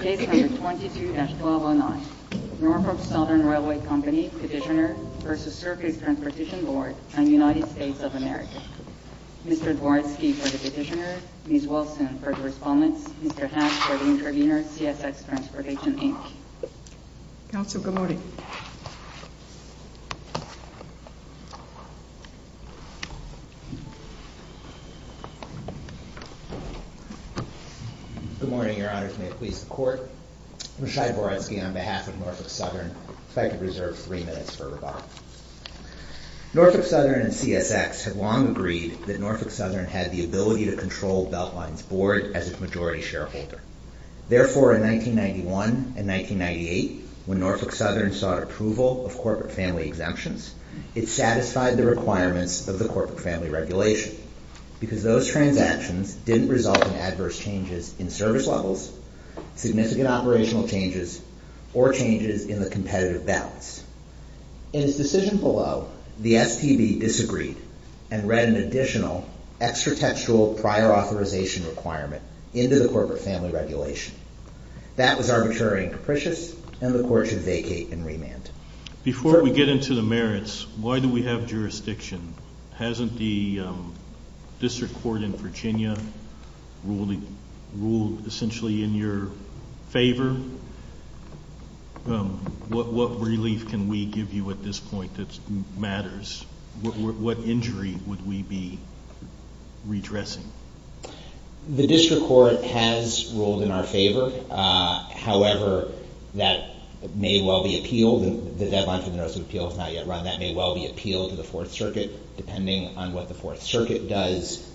Case No. 22-1209, Norfolk Southern Railway Company Petitioner v. Circuit Transportation Board, United States of America Mr. Dworsky for the Petitioner, Ms. Wilson for the Respondents, Mr. Hatch for the Intervener, CSX Transportation, Inc. Counsel, good morning. Good morning, Your Honors. May it please the Court. I'm Rashai Dworsky on behalf of Norfolk Southern. If I could reserve three minutes for rebuttal. Norfolk Southern and CSX have long agreed that Norfolk Southern had the ability to control Beltline's board as its majority shareholder. Therefore, in 1991 and 1998, when Norfolk Southern sought approval of corporate family exemptions, it satisfied the requirements of the corporate family regulation because those transactions didn't result in adverse changes in service levels, significant operational changes, or changes in the competitive balance. In its decision below, the STB disagreed and read an additional extra-textual prior authorization requirement into the corporate family regulation. That was arbitrary and capricious, and the Court should vacate and remand. Before we get into the merits, why do we have jurisdiction? Hasn't the District Court in Virginia ruled essentially in your favor? What relief can we give you at this point that matters? What injury would we be redressing? The District Court has ruled in our favor. However, that may well be appealed. The deadline for the notice of appeal has not yet run. That may well be appealed to the Fourth Circuit. Depending on what the Fourth Circuit does,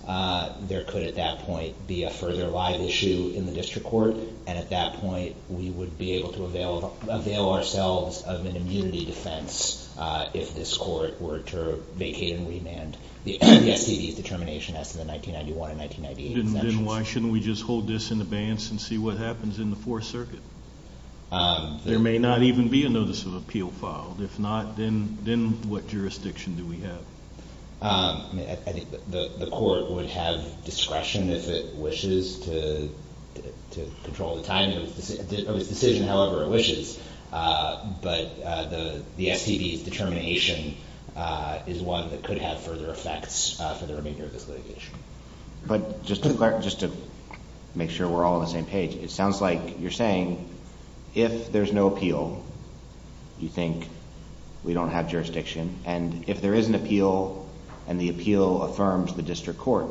there could at that point be a further live issue in the District Court. At that point, we would be able to avail ourselves of an immunity defense if this Court were to vacate and remand the STB's determination as to the 1991 and 1998 exemptions. Then why shouldn't we just hold this in abeyance and see what happens in the Fourth Circuit? There may not even be a notice of appeal filed. If not, then what jurisdiction do we have? I think the Court would have discretion if it wishes to control the timing of its decision, however it wishes. But the STB's determination is one that could have further effects for the remainder of this litigation. But just to make sure we're all on the same page, it sounds like you're saying if there's no appeal, you think we don't have jurisdiction. And if there is an appeal and the appeal affirms the District Court,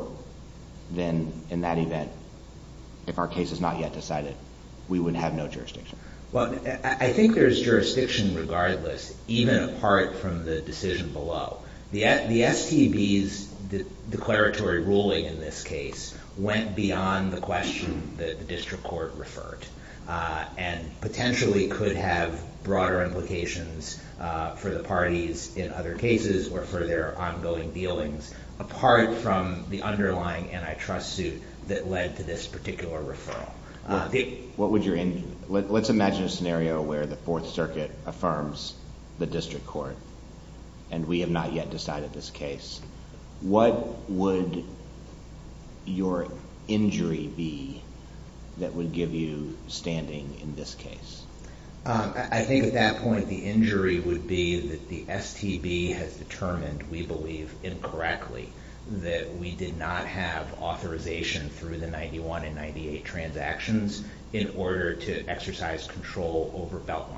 then in that event, if our case is not yet decided, we would have no jurisdiction. I think there's jurisdiction regardless, even apart from the decision below. The STB's declaratory ruling in this case went beyond the question that the District Court referred and potentially could have broader implications for the parties in other cases or for their ongoing dealings, apart from the underlying antitrust suit that led to this particular referral. Let's imagine a scenario where the Fourth Circuit affirms the District Court and we have not yet decided this case. What would your injury be that would give you standing in this case? I think at that point, the injury would be that the STB has determined, we believe incorrectly, that we did not have authorization through the 91 and 98 transactions in order to exercise control over Beltline.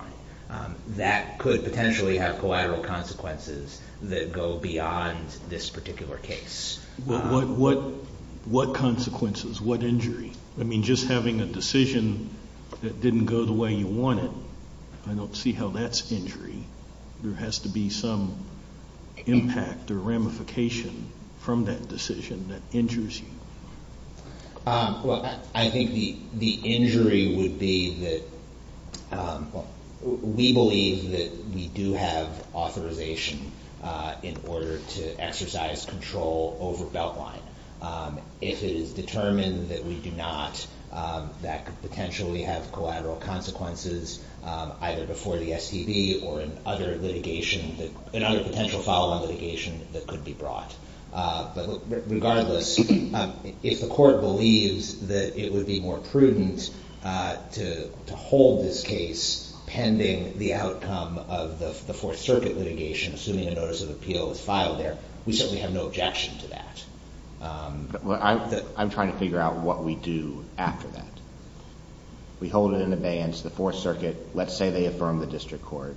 That could potentially have collateral consequences that go beyond this particular case. What consequences? What injury? I mean, just having a decision that didn't go the way you wanted, I don't see how that's injury. There has to be some impact or ramification from that decision that injures you. Well, I think the injury would be that we believe that we do have authorization in order to exercise control over Beltline. If it is determined that we do not, that could potentially have collateral consequences, either before the STB or in other potential follow-on litigation that could be brought. But regardless, if the Court believes that it would be more prudent to hold this case pending the outcome of the Fourth Circuit litigation, assuming a notice of appeal is filed there, we certainly have no objection to that. I'm trying to figure out what we do after that. We hold it in abeyance. The Fourth Circuit, let's say they affirm the district court,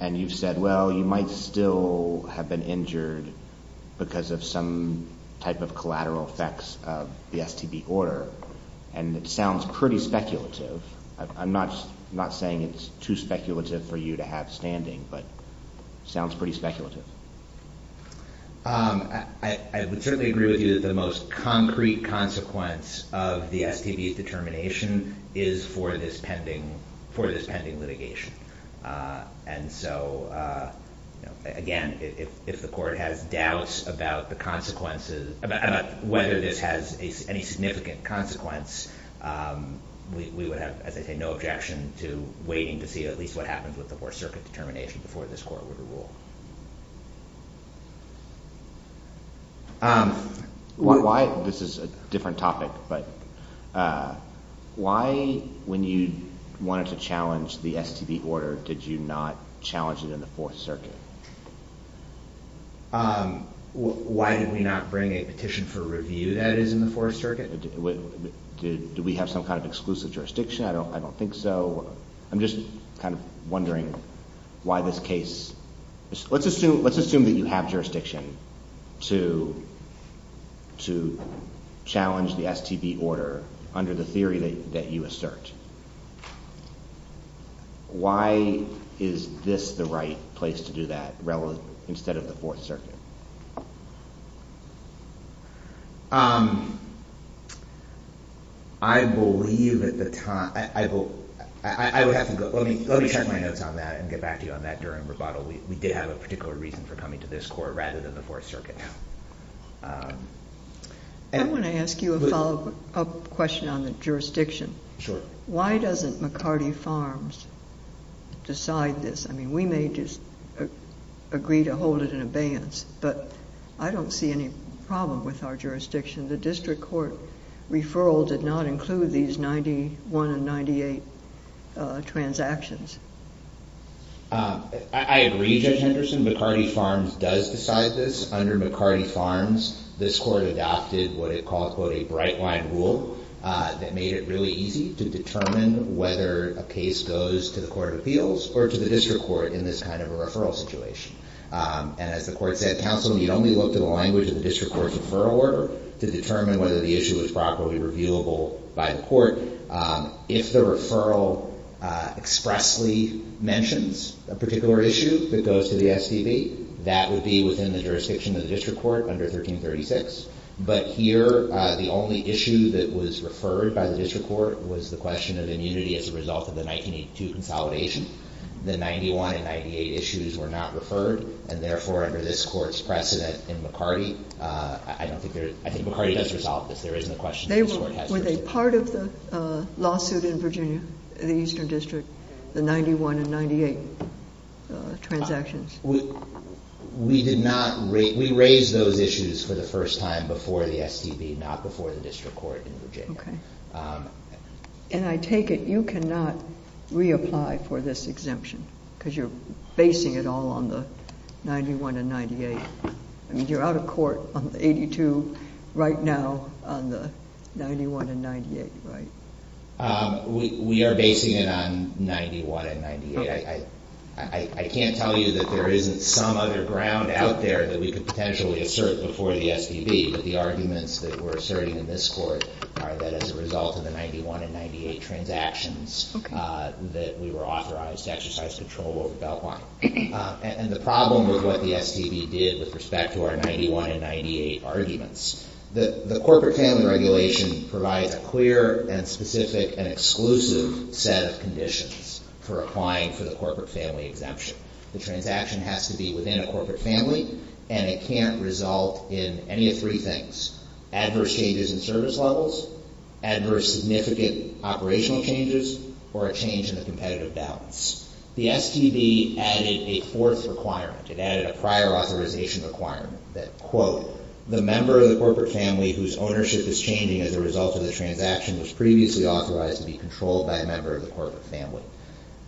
and you've said, well, you might still have been injured because of some type of collateral effects of the STB order. And it sounds pretty speculative. I'm not saying it's too speculative for you to have standing, but it sounds pretty speculative. I would certainly agree with you that the most concrete consequence of the STB's determination is for this pending litigation. And so, again, if the Court has doubts about the consequences, about whether this has any significant consequence, we would have, as I say, no objection to waiting to see at least what happens with the Fourth Circuit determination before this Court would rule. This is a different topic, but why, when you wanted to challenge the STB order, did you not challenge it in the Fourth Circuit? Why did we not bring a petition for review that is in the Fourth Circuit? Do we have some kind of exclusive jurisdiction? I don't think so. I'm just kind of wondering why this case – let's assume that you have jurisdiction to challenge the STB order under the theory that you assert. Why is this the right place to do that instead of the Fourth Circuit? I believe at the time – I would have to go – let me check my notes on that and get back to you on that during rebuttal. We did have a particular reason for coming to this Court rather than the Fourth Circuit. I want to ask you a follow-up question on the jurisdiction. Sure. Why doesn't McCarty Farms decide this? I mean, we may just agree to hold it in abeyance, but I don't see any problem with our jurisdiction. The district court referral did not include these 91 and 98 transactions. I agree, Judge Henderson. McCarty Farms does decide this. Under McCarty Farms, this Court adopted what it called, quote, a bright-line rule that made it really easy to determine whether a case goes to the court of appeals or to the district court in this kind of a referral situation. And as the Court said, counsel, you'd only look to the language of the district court's referral order to determine whether the issue was properly reviewable by the court. If the referral expressly mentions a particular issue that goes to the SDV, that would be within the jurisdiction of the district court under 1336. But here, the only issue that was referred by the district court was the question of immunity as a result of the 1982 consolidation. The 91 and 98 issues were not referred, and therefore, under this Court's precedent in McCarty, I don't think there's – I think McCarty does resolve this. There isn't a question that this Court has to resolve. Were they part of the lawsuit in Virginia, the Eastern District, the 91 and 98 transactions? We did not – we raised those issues for the first time before the SDV, not before the district court in Virginia. Okay. And I take it you cannot reapply for this exemption because you're basing it all on the 91 and 98. I mean, you're out of court on the 82 right now on the 91 and 98, right? We are basing it on 91 and 98. I can't tell you that there isn't some other ground out there that we could potentially assert before the SDV, but the arguments that we're asserting in this Court are that as a result of the 91 and 98 transactions that we were authorized to exercise control over Beltline. And the problem with what the SDV did with respect to our 91 and 98 arguments, the corporate family regulation provides a clear and specific and exclusive set of conditions for applying for the corporate family exemption. The transaction has to be within a corporate family, and it can't result in any of three things – adverse changes in service levels, adverse significant operational changes, or a change in the competitive balance. The SDV added a fourth requirement. It added a prior authorization requirement that, quote, the member of the corporate family whose ownership is changing as a result of the transaction was previously authorized to be controlled by a member of the corporate family.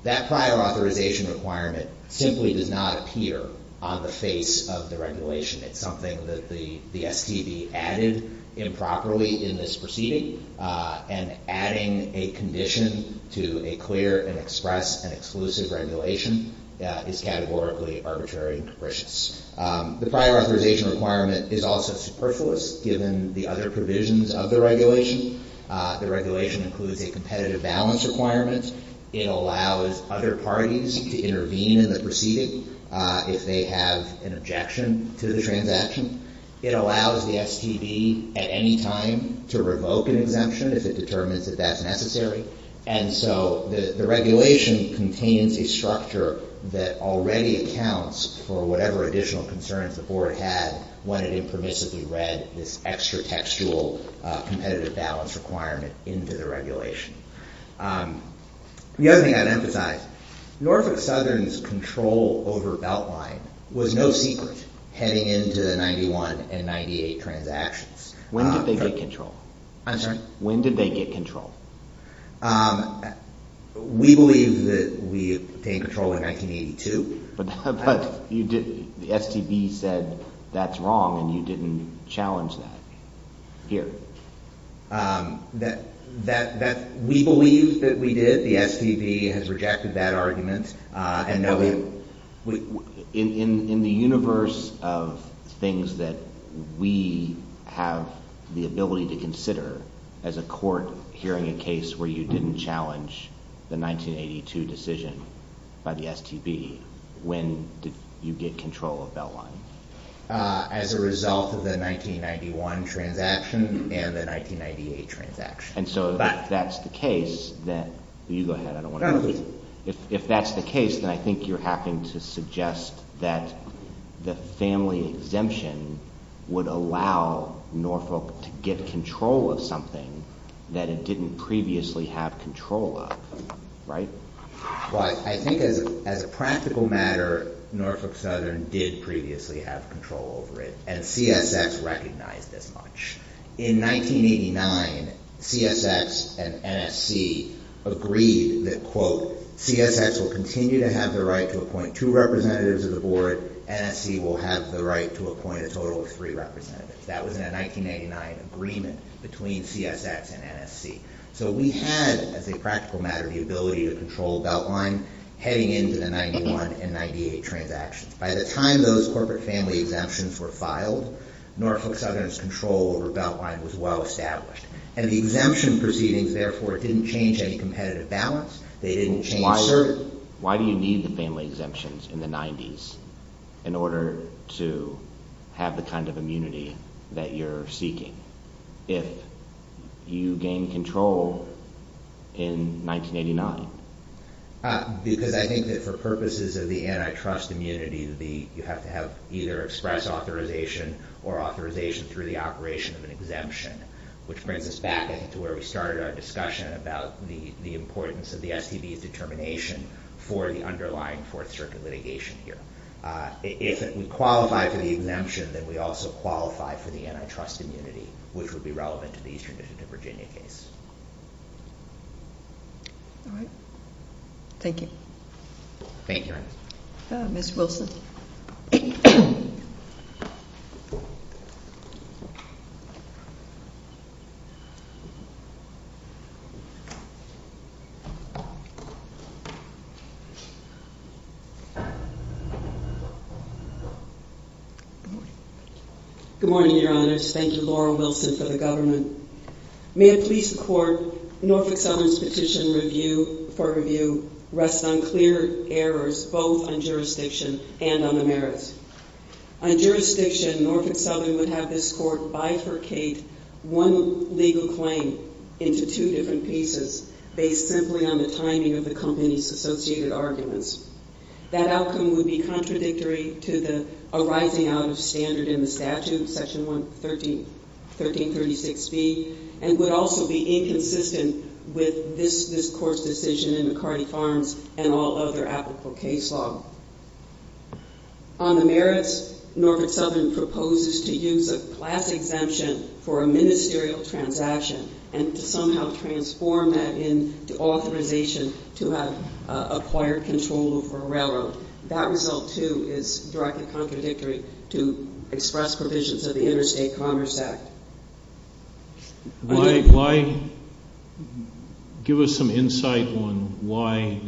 That prior authorization requirement simply does not appear on the face of the regulation. It's something that the SDV added improperly in this proceeding, and adding a condition to a clear and express and exclusive regulation is categorically arbitrary and capricious. The prior authorization requirement is also superfluous given the other provisions of the regulation. The regulation includes a competitive balance requirement. It allows other parties to intervene in the proceeding if they have an objection to the transaction. It allows the SDV at any time to revoke an exemption if it determines that that's necessary. And so the regulation contains a structure that already accounts for whatever additional concerns the board had when it impermissibly read this extra textual competitive balance requirement into the regulation. The other thing I'd emphasize, Norfolk Southern's control over Beltline was no secret heading into the 91 and 98 transactions. When did they get control? I'm sorry? When did they get control? We believe that we obtained control in 1982. But the SDV said that's wrong, and you didn't challenge that here. We believe that we did. The SDV has rejected that argument. In the universe of things that we have the ability to consider, as a court hearing a case where you didn't challenge the 1982 decision by the SDV, when did you get control of Beltline? As a result of the 1991 transaction and the 1998 transaction. And so if that's the case, then I think you're having to suggest that the family exemption would allow Norfolk to get control of something that it didn't previously have control of, right? Well, I think as a practical matter, Norfolk Southern did previously have control over it, and CSX recognized as much. In 1989, CSX and NSC agreed that, quote, CSX will continue to have the right to appoint two representatives of the board. NSC will have the right to appoint a total of three representatives. That was in a 1989 agreement between CSX and NSC. So we had, as a practical matter, the ability to control Beltline heading into the 1991 and 1998 transactions. By the time those corporate family exemptions were filed, Norfolk Southern's control over Beltline was well established. And the exemption proceedings, therefore, didn't change any competitive balance. They didn't change certain... Why do you need the family exemptions in the 90s in order to have the kind of immunity that you're seeking? If you gain control in 1989? Because I think that for purposes of the antitrust immunity, you have to have either express authorization or authorization through the operation of an exemption, which brings us back to where we started our discussion about the importance of the STB's determination for the underlying Fourth Circuit litigation here. If we qualify for the exemption, then we also qualify for the antitrust immunity, which would be relevant to the Eastern District of Virginia case. All right. Thank you. Thank you. Ms. Wilson. Good morning. Good morning, Your Honors. Thank you, Laura Wilson, for the government. May it please the Court, Norfolk Southern's petition for review rests on clear errors, both on jurisdiction and on the merits. On jurisdiction, Norfolk Southern would have this Court bifurcate one legal claim into two different pieces based simply on the timing of the company's associated arguments. That outcome would be contradictory to the arising out of standard in the statute, Section 1336B, and would also be inconsistent with this Court's decision in McCarty Farms and all other applicable case law. On the merits, Norfolk Southern proposes to use a class exemption for a ministerial transaction and to somehow transform that into authorization to have acquired control over a railroad. That result, too, is directly contradictory to express provisions of the Interstate Commerce Act. Give us some insight on why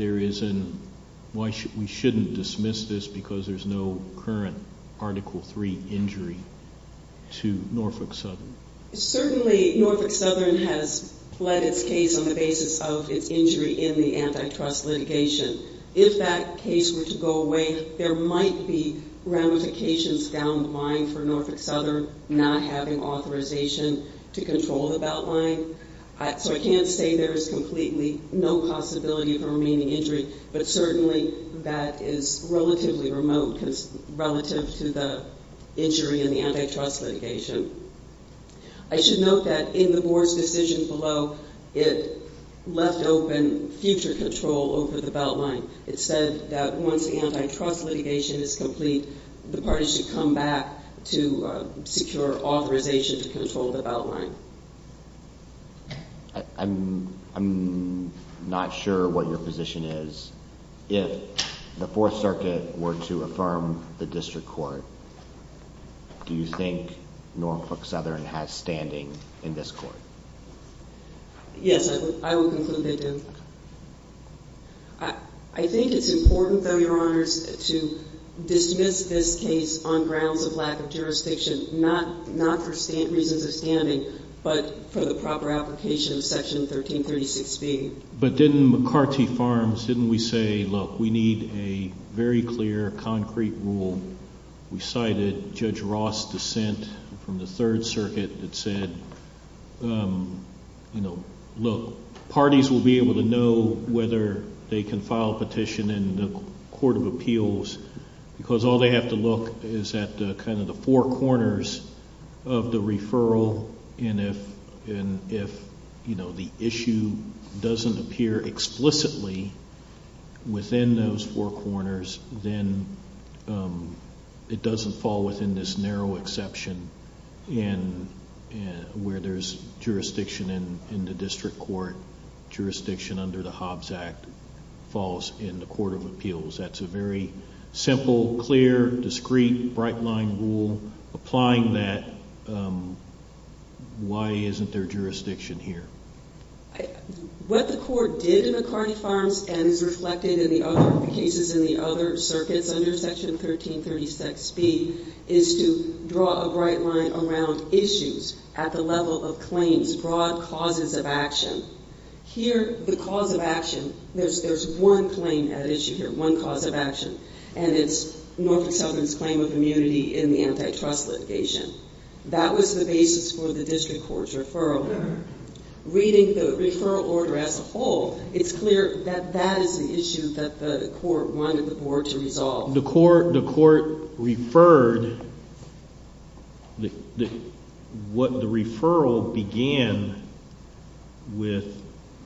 we shouldn't dismiss this because there's no current Article III injury to Norfolk Southern. Certainly, Norfolk Southern has fled its case on the basis of its injury in the antitrust litigation. If that case were to go away, there might be ramifications down the line for Norfolk Southern not having authorization to control the Beltline. So I can't say there is completely no possibility for remaining injury, but certainly that is relatively remote relative to the injury in the antitrust litigation. I should note that in the Board's decision below, it left open future control over the Beltline. It said that once the antitrust litigation is complete, the party should come back to secure authorization to control the Beltline. I'm not sure what your position is. If the Fourth Circuit were to affirm the district court, do you think Norfolk Southern has standing in this court? Yes, I would conclude they do. I think it's important, though, Your Honors, to dismiss this case on grounds of lack of jurisdiction, not for reasons of standing, but for the proper application of Section 1336B. But didn't McCarty Farms, didn't we say, look, we need a very clear, concrete rule? We cited Judge Ross' dissent from the Third Circuit that said, look, parties will be able to know whether they can file a petition in the Court of Appeals because all they have to look is at kind of the four corners of the referral. And if, you know, the issue doesn't appear explicitly within those four corners, then it doesn't fall within this narrow exception where there's jurisdiction in the district court, jurisdiction under the Hobbs Act falls in the Court of Appeals. That's a very simple, clear, discreet, bright-line rule. Applying that, why isn't there jurisdiction here? What the court did in McCarty Farms and is reflected in the other cases in the other circuits under Section 1336B is to draw a bright line around issues at the level of claims, broad causes of action. Here, the cause of action, there's one claim at issue here, one cause of action, and it's Norfolk Southland's claim of immunity in the antitrust litigation. That was the basis for the district court's referral. Reading the referral order as a whole, it's clear that that is the issue that the court wanted the board to resolve. The court referred what the referral began with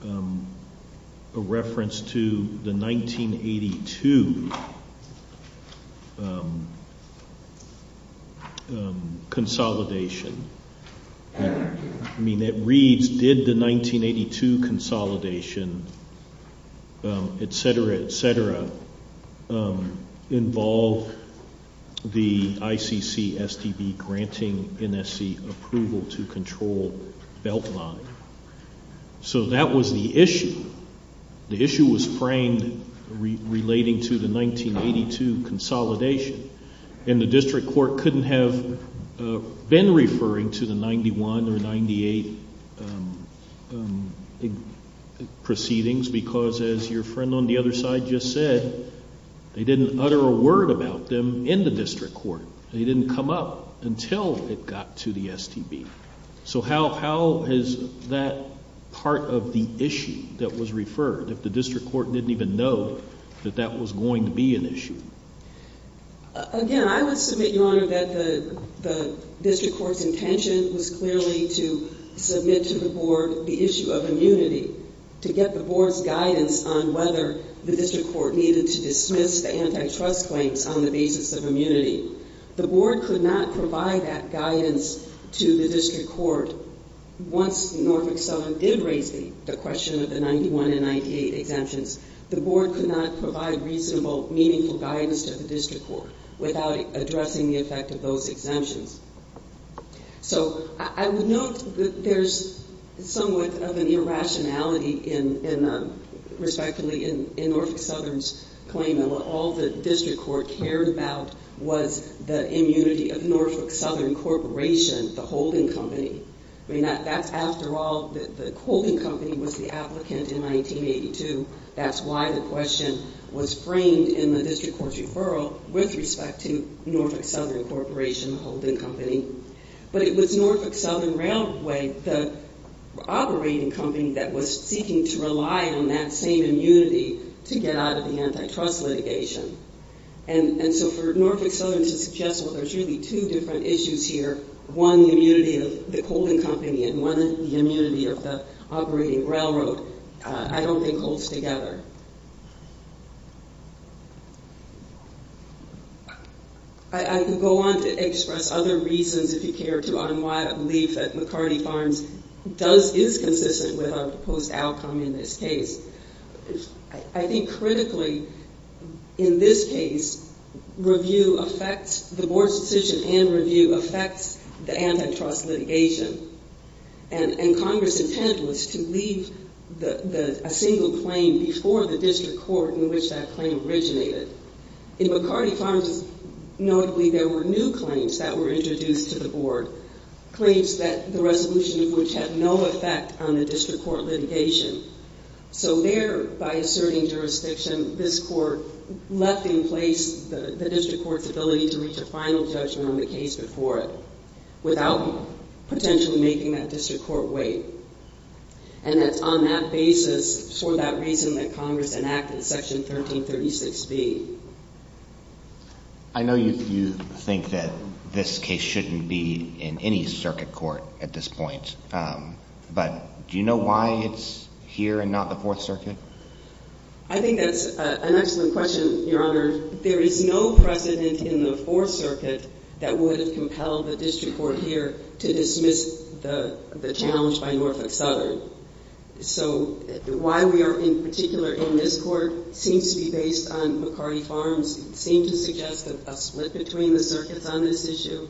a reference to the 1982 consolidation. I mean, it reads, did the 1982 consolidation, et cetera, et cetera, involve the ICC STB granting NSC approval to control Beltline? So that was the issue. The issue was framed relating to the 1982 consolidation, and the district court couldn't have been referring to the 91 or 98 proceedings because, as your friend on the other side just said, they didn't utter a word about them in the district court. They didn't come up until it got to the STB. So how is that part of the issue that was referred if the district court didn't even know that that was going to be an issue? Again, I would submit, Your Honor, that the district court's intention was clearly to submit to the board the issue of immunity, to get the board's guidance on whether the district court needed to dismiss the antitrust claims on the basis of immunity. The board could not provide that guidance to the district court once Norfolk Southern did raise the question of the 91 and 98 exemptions. The board could not provide reasonable, meaningful guidance to the district court without addressing the effect of those exemptions. So I would note that there's somewhat of an irrationality, respectively, in Norfolk Southern's claim that all the district court cared about was the immunity of Norfolk Southern Corporation, the holding company. I mean, that's after all, the holding company was the applicant in 1982. That's why the question was framed in the district court's referral with respect to Norfolk Southern Corporation, the holding company. But it was Norfolk Southern Railway, the operating company that was seeking to rely on that same immunity to get out of the antitrust litigation. And so for Norfolk Southern to suggest, well, there's really two different issues here, one the immunity of the holding company and one the immunity of the operating railroad, I don't think holds together. I can go on to express other reasons, if you care to, on why I believe that McCarty Farms is consistent with our proposed outcome in this case. I think critically, in this case, the board's decision and review affects the antitrust litigation. And Congress's intent was to leave a single claim before the district court in which that claim originated. In McCarty Farms, notably, there were new claims that were introduced to the board, claims that the resolution of which had no effect on the district court litigation. So there, by asserting jurisdiction, this court left in place the district court's ability to reach a final judgment on the case before it, without potentially making that district court wait. And it's on that basis, for that reason, that Congress enacted Section 1336B. I know you think that this case shouldn't be in any circuit court at this point, but do you know why it's here and not the Fourth Circuit? I think that's an excellent question, Your Honor. There is no precedent in the Fourth Circuit that would have compelled the district court here to dismiss the challenge by Norfolk Southern. So why we are in particular in this court seems to be based on McCarty Farms. It seems to suggest a split between the circuits on this issue,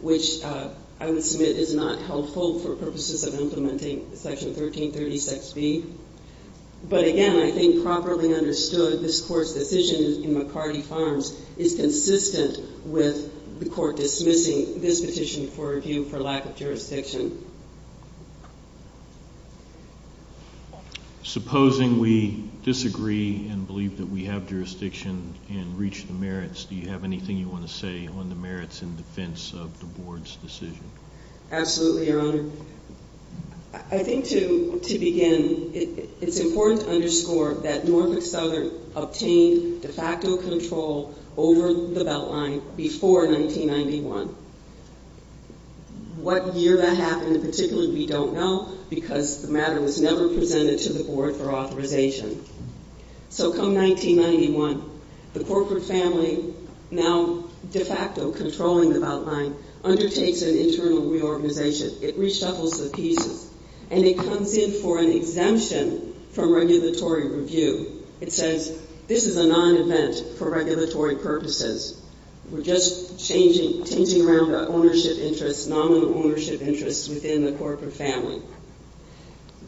which I would submit is not helpful for purposes of implementing Section 1336B. But again, I think properly understood, this court's decision in McCarty Farms is consistent with the court dismissing this petition for review for lack of jurisdiction. Supposing we disagree and believe that we have jurisdiction and reach the merits, do you have anything you want to say on the merits in defense of the board's decision? Absolutely, Your Honor. I think to begin, it's important to underscore that Norfolk Southern obtained de facto control over the Beltline before 1991. What year that happened in particular, we don't know because the matter was never presented to the board for authorization. So come 1991, the corporate family, now de facto controlling the Beltline, undertakes an internal reorganization. It reshuffles the pieces and it comes in for an exemption from regulatory review. It says this is a non-event for regulatory purposes. We're just changing around our ownership interests, nominal ownership interests within the corporate family.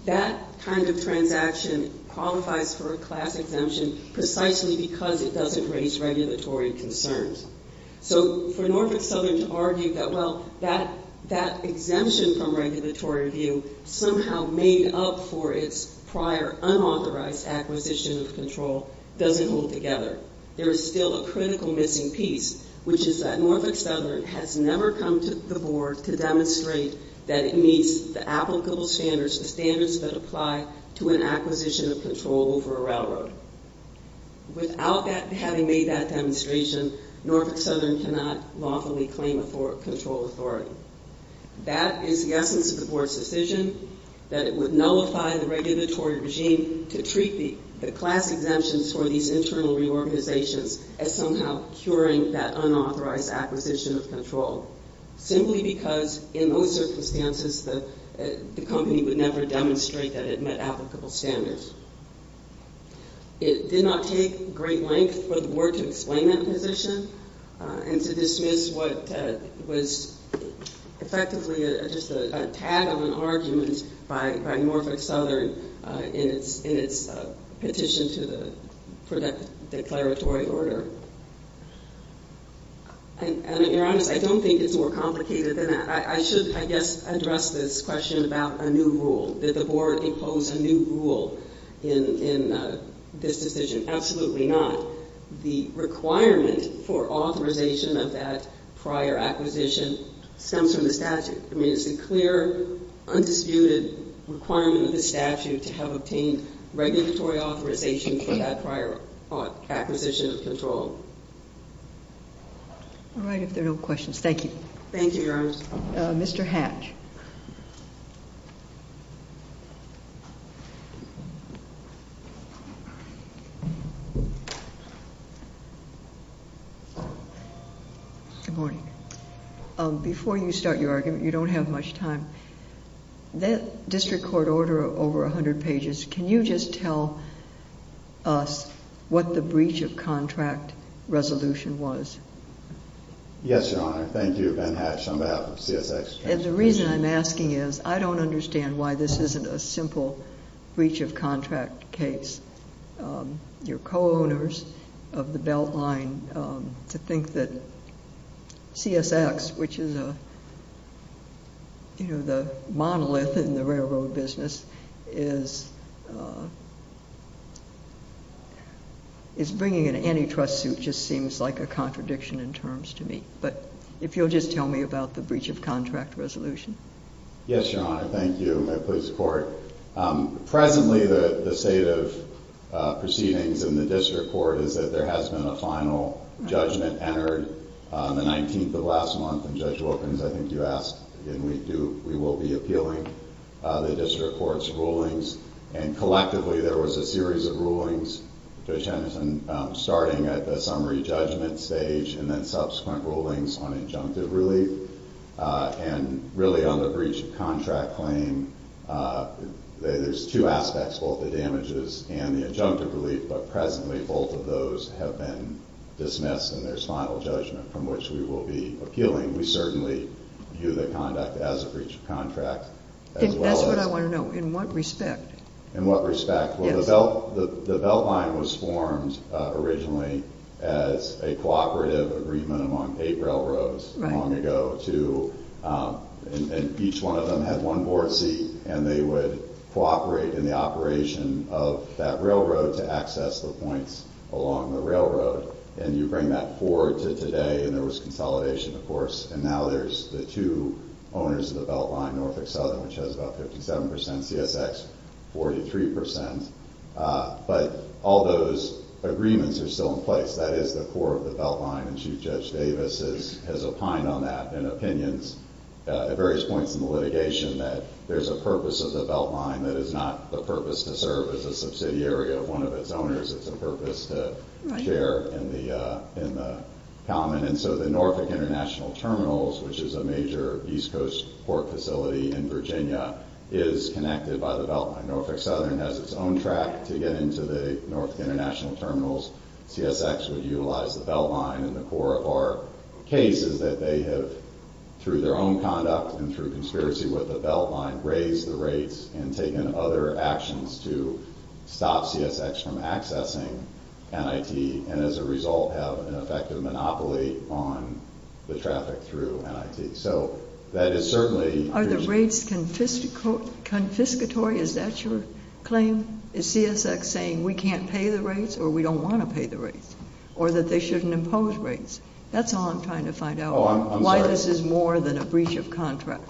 That kind of transaction qualifies for a class exemption precisely because it doesn't raise regulatory concerns. So for Norfolk Southern to argue that, well, that exemption from regulatory review somehow made up for its prior unauthorized acquisition of control doesn't hold together. There is still a critical missing piece, which is that Norfolk Southern has never come to the board to demonstrate that it meets the applicable standards, the standards that apply to an acquisition of control over a railroad. Without having made that demonstration, Norfolk Southern cannot lawfully claim control authority. That is the essence of the board's decision, that it would nullify the regulatory regime to treat the class exemptions for these internal reorganizations as somehow curing that unauthorized acquisition of control, simply because in those circumstances the company would never demonstrate that it met applicable standards. It did not take great length for the board to explain that position and to dismiss what was effectively just a tag-on argument by Norfolk Southern in its petition to the declaratory order. And to be honest, I don't think it's more complicated than that. I should, I guess, address this question about a new rule. Did the board impose a new rule in this decision? Absolutely not. The requirement for authorization of that prior acquisition stems from the statute. I mean, it's a clear, undisputed requirement of the statute to have obtained regulatory authorization for that prior acquisition of control. All right. If there are no questions, thank you. Thank you, Your Honor. Mr. Hatch. Good morning. Before you start your argument, you don't have much time. That district court order of over 100 pages, can you just tell us what the breach of contract resolution was? Yes, Your Honor. Thank you. Ben Hatch on behalf of CSX. You know, the monolith in the railroad business is bringing an antitrust suit just seems like a contradiction in terms to me. But if you'll just tell me about the breach of contract resolution. Yes, Your Honor. Thank you. May it please the court. Presently, the state of proceedings in the district court is that there has been a final judgment entered on the 19th of last month. And Judge Wilkins, I think you asked, and we will be appealing the district court's rulings. And collectively, there was a series of rulings, Judge Henderson, starting at the summary judgment stage and then subsequent rulings on injunctive relief. And really, on the breach of contract claim, there's two aspects, both the damages and the injunctive relief. But presently, both of those have been dismissed and there's final judgment from which we will be appealing. And we certainly view the conduct as a breach of contract. That's what I want to know. In what respect? In what respect? Well, the Beltline was formed originally as a cooperative agreement among eight railroads long ago. And each one of them had one board seat and they would cooperate in the operation of that railroad to access the points along the railroad. And you bring that forward to today and there was consolidation, of course. And now there's the two owners of the Beltline, Norfolk Southern, which has about 57%, CSX, 43%. But all those agreements are still in place. That is, the core of the Beltline, and Chief Judge Davis has opined on that in opinions at various points in the litigation, that there's a purpose of the Beltline that is not the purpose to serve as a subsidiary of one of its owners. It's a purpose to share in the common. And so the Norfolk International Terminals, which is a major East Coast port facility in Virginia, is connected by the Beltline. Norfolk Southern has its own track to get into the Norfolk International Terminals. CSX would utilize the Beltline. And the core of our case is that they have, through their own conduct and through conspiracy with the Beltline, raised the rates and taken other actions to stop CSX from accessing NIT, and as a result have an effective monopoly on the traffic through NIT. So that is certainly... Are the rates confiscatory? Is that your claim? Is CSX saying we can't pay the rates or we don't want to pay the rates? Or that they shouldn't impose rates? That's all I'm trying to find out. Why this is more than a breach of contract.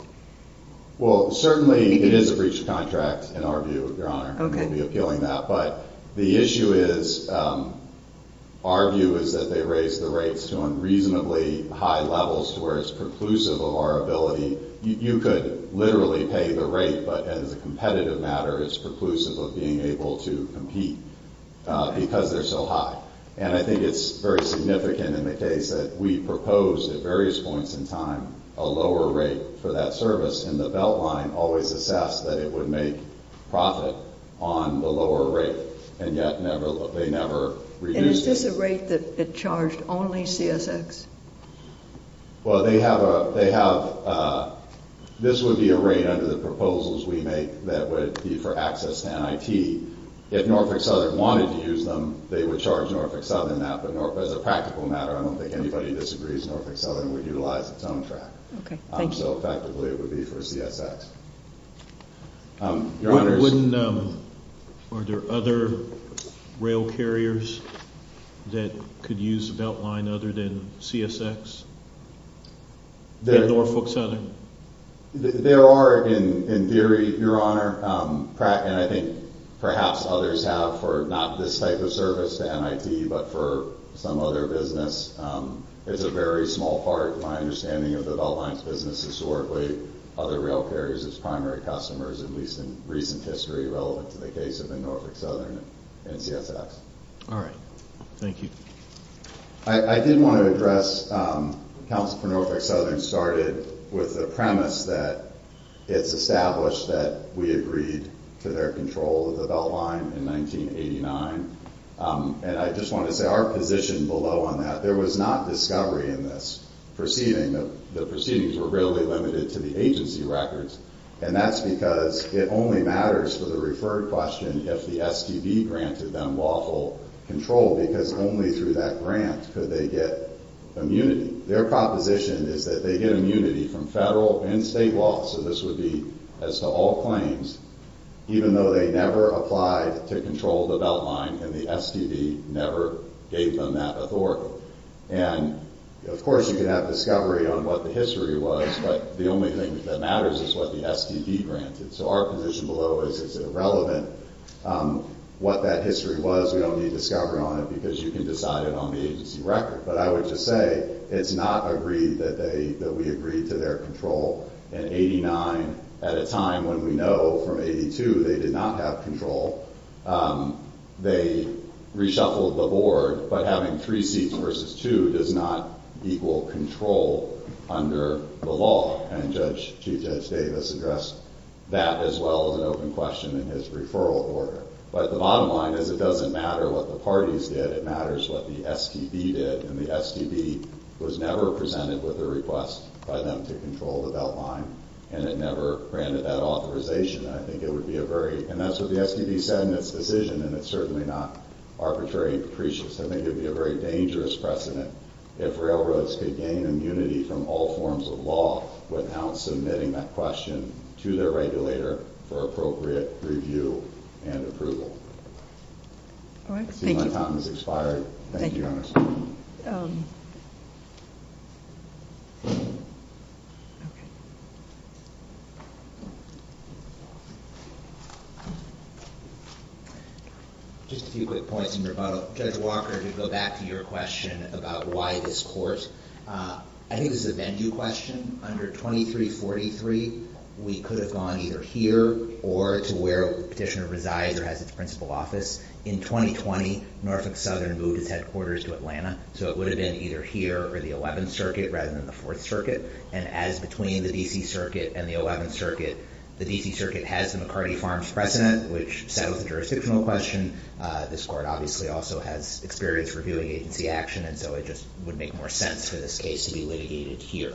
Well, certainly it is a breach of contract in our view, Your Honor. We'll be appealing that. But the issue is, our view is that they raise the rates to unreasonably high levels to where it's preclusive of our ability. You could literally pay the rate, but as a competitive matter, it's preclusive of being able to compete because they're so high. And I think it's very significant in the case that we proposed at various points in time a lower rate for that service, and the Beltline always assessed that it would make profit on the lower rate, and yet they never reduced it. And is this a rate that charged only CSX? Well, they have a... This would be a rate under the proposals we make that would be for access to NIT. If Norfolk Southern wanted to use them, they would charge Norfolk Southern that. But as a practical matter, I don't think anybody disagrees Norfolk Southern would utilize its own track. Okay, thank you. So effectively, it would be for CSX. Your Honor... Are there other rail carriers that could use Beltline other than CSX? At Norfolk Southern? There are, in theory, Your Honor. And I think perhaps others have for not this type of service to NIT, but for some other business. It's a very small part, in my understanding, of the Beltline's business historically. Other rail carriers as primary customers, at least in recent history, relevant to the case of Norfolk Southern and CSX. All right. Thank you. I did want to address... Counsel for Norfolk Southern started with the premise that it's established that we agreed to their control of the Beltline in 1989. And I just want to say our position below on that, there was not discovery in this proceeding. The proceedings were readily limited to the agency records. And that's because it only matters for the referred question if the STD granted them lawful control. Because only through that grant could they get immunity. Their proposition is that they get immunity from federal and state law. So this would be as to all claims, even though they never applied to control the Beltline and the STD never gave them that authority. And, of course, you could have discovery on what the history was, but the only thing that matters is what the STD granted. So our position below is it's irrelevant what that history was. We don't need discovery on it because you can decide it on the agency record. But I would just say it's not agreed that we agreed to their control in 89 at a time when we know from 82 they did not have control. They reshuffled the board. But having three seats versus two does not equal control under the law. And Chief Judge Davis addressed that as well as an open question in his referral order. But the bottom line is it doesn't matter what the parties did. It matters what the STD did. And the STD was never presented with a request by them to control the Beltline. And it never granted that authorization. And I think it would be a very—and that's what the STD said in its decision, and it's certainly not arbitrary and capricious. I think it would be a very dangerous precedent if railroads could gain immunity from all forms of law without submitting that question to their regulator for appropriate review and approval. All right. Thank you. I see my time has expired. Thank you, Your Honor. Just a few quick points in rebuttal. Judge Walker, to go back to your question about why this court—I think this is a Bendew question. Under 2343, we could have gone either here or to where the petitioner resides or has its principal office. In 2020, Norfolk Southern moved its headquarters to Atlanta, so it would have been either here or the 11th Circuit rather than the 4th Circuit. And as between the D.C. Circuit and the 11th Circuit, the D.C. Circuit has the McCarty Farms precedent, which settles the jurisdictional question. This court obviously also has experience reviewing agency action, and so it just would make more sense for this case to be litigated here.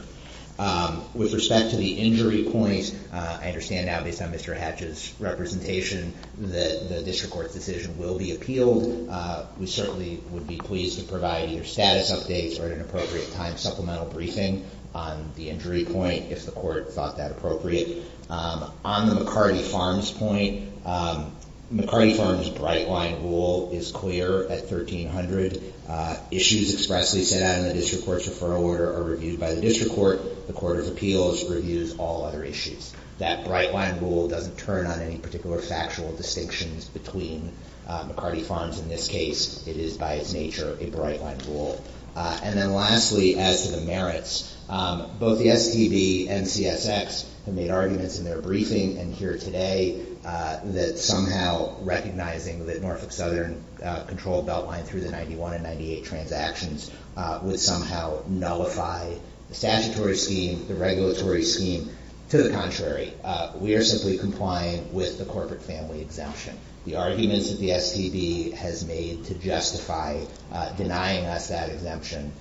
With respect to the injury point, I understand now, based on Mr. Hatch's representation, that the district court's decision will be appealed. We certainly would be pleased to provide either status updates or, at an appropriate time, supplemental briefing on the injury point, if the court thought that appropriate. On the McCarty Farms point, McCarty Farms' bright-line rule is clear at 1300. Issues expressly set out in the district court's referral order are reviewed by the district court. The Court of Appeals reviews all other issues. That bright-line rule doesn't turn on any particular factual distinctions between McCarty Farms. In this case, it is, by its nature, a bright-line rule. And then lastly, as to the merits, both the STB and CSX have made arguments in their briefing and here today that somehow recognizing that Norfolk Southern controlled Beltline through the 91 and 98 transactions would somehow nullify the statutory scheme, the regulatory scheme. To the contrary, we are simply complying with the corporate family exemption. The arguments that the STB has made to justify denying us that exemption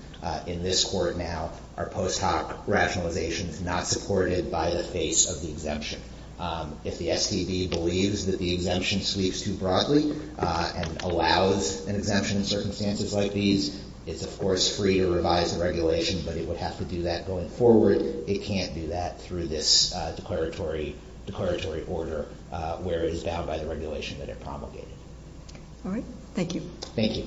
in this court now are post hoc rationalizations not supported by the face of the exemption. If the STB believes that the exemption sweeps too broadly and allows an exemption in circumstances like these, it's, of course, free to revise the regulation, but it would have to do that going forward. It can't do that through this declaratory order where it is bound by the regulation that it promulgated. All right. Thank you. Thank you.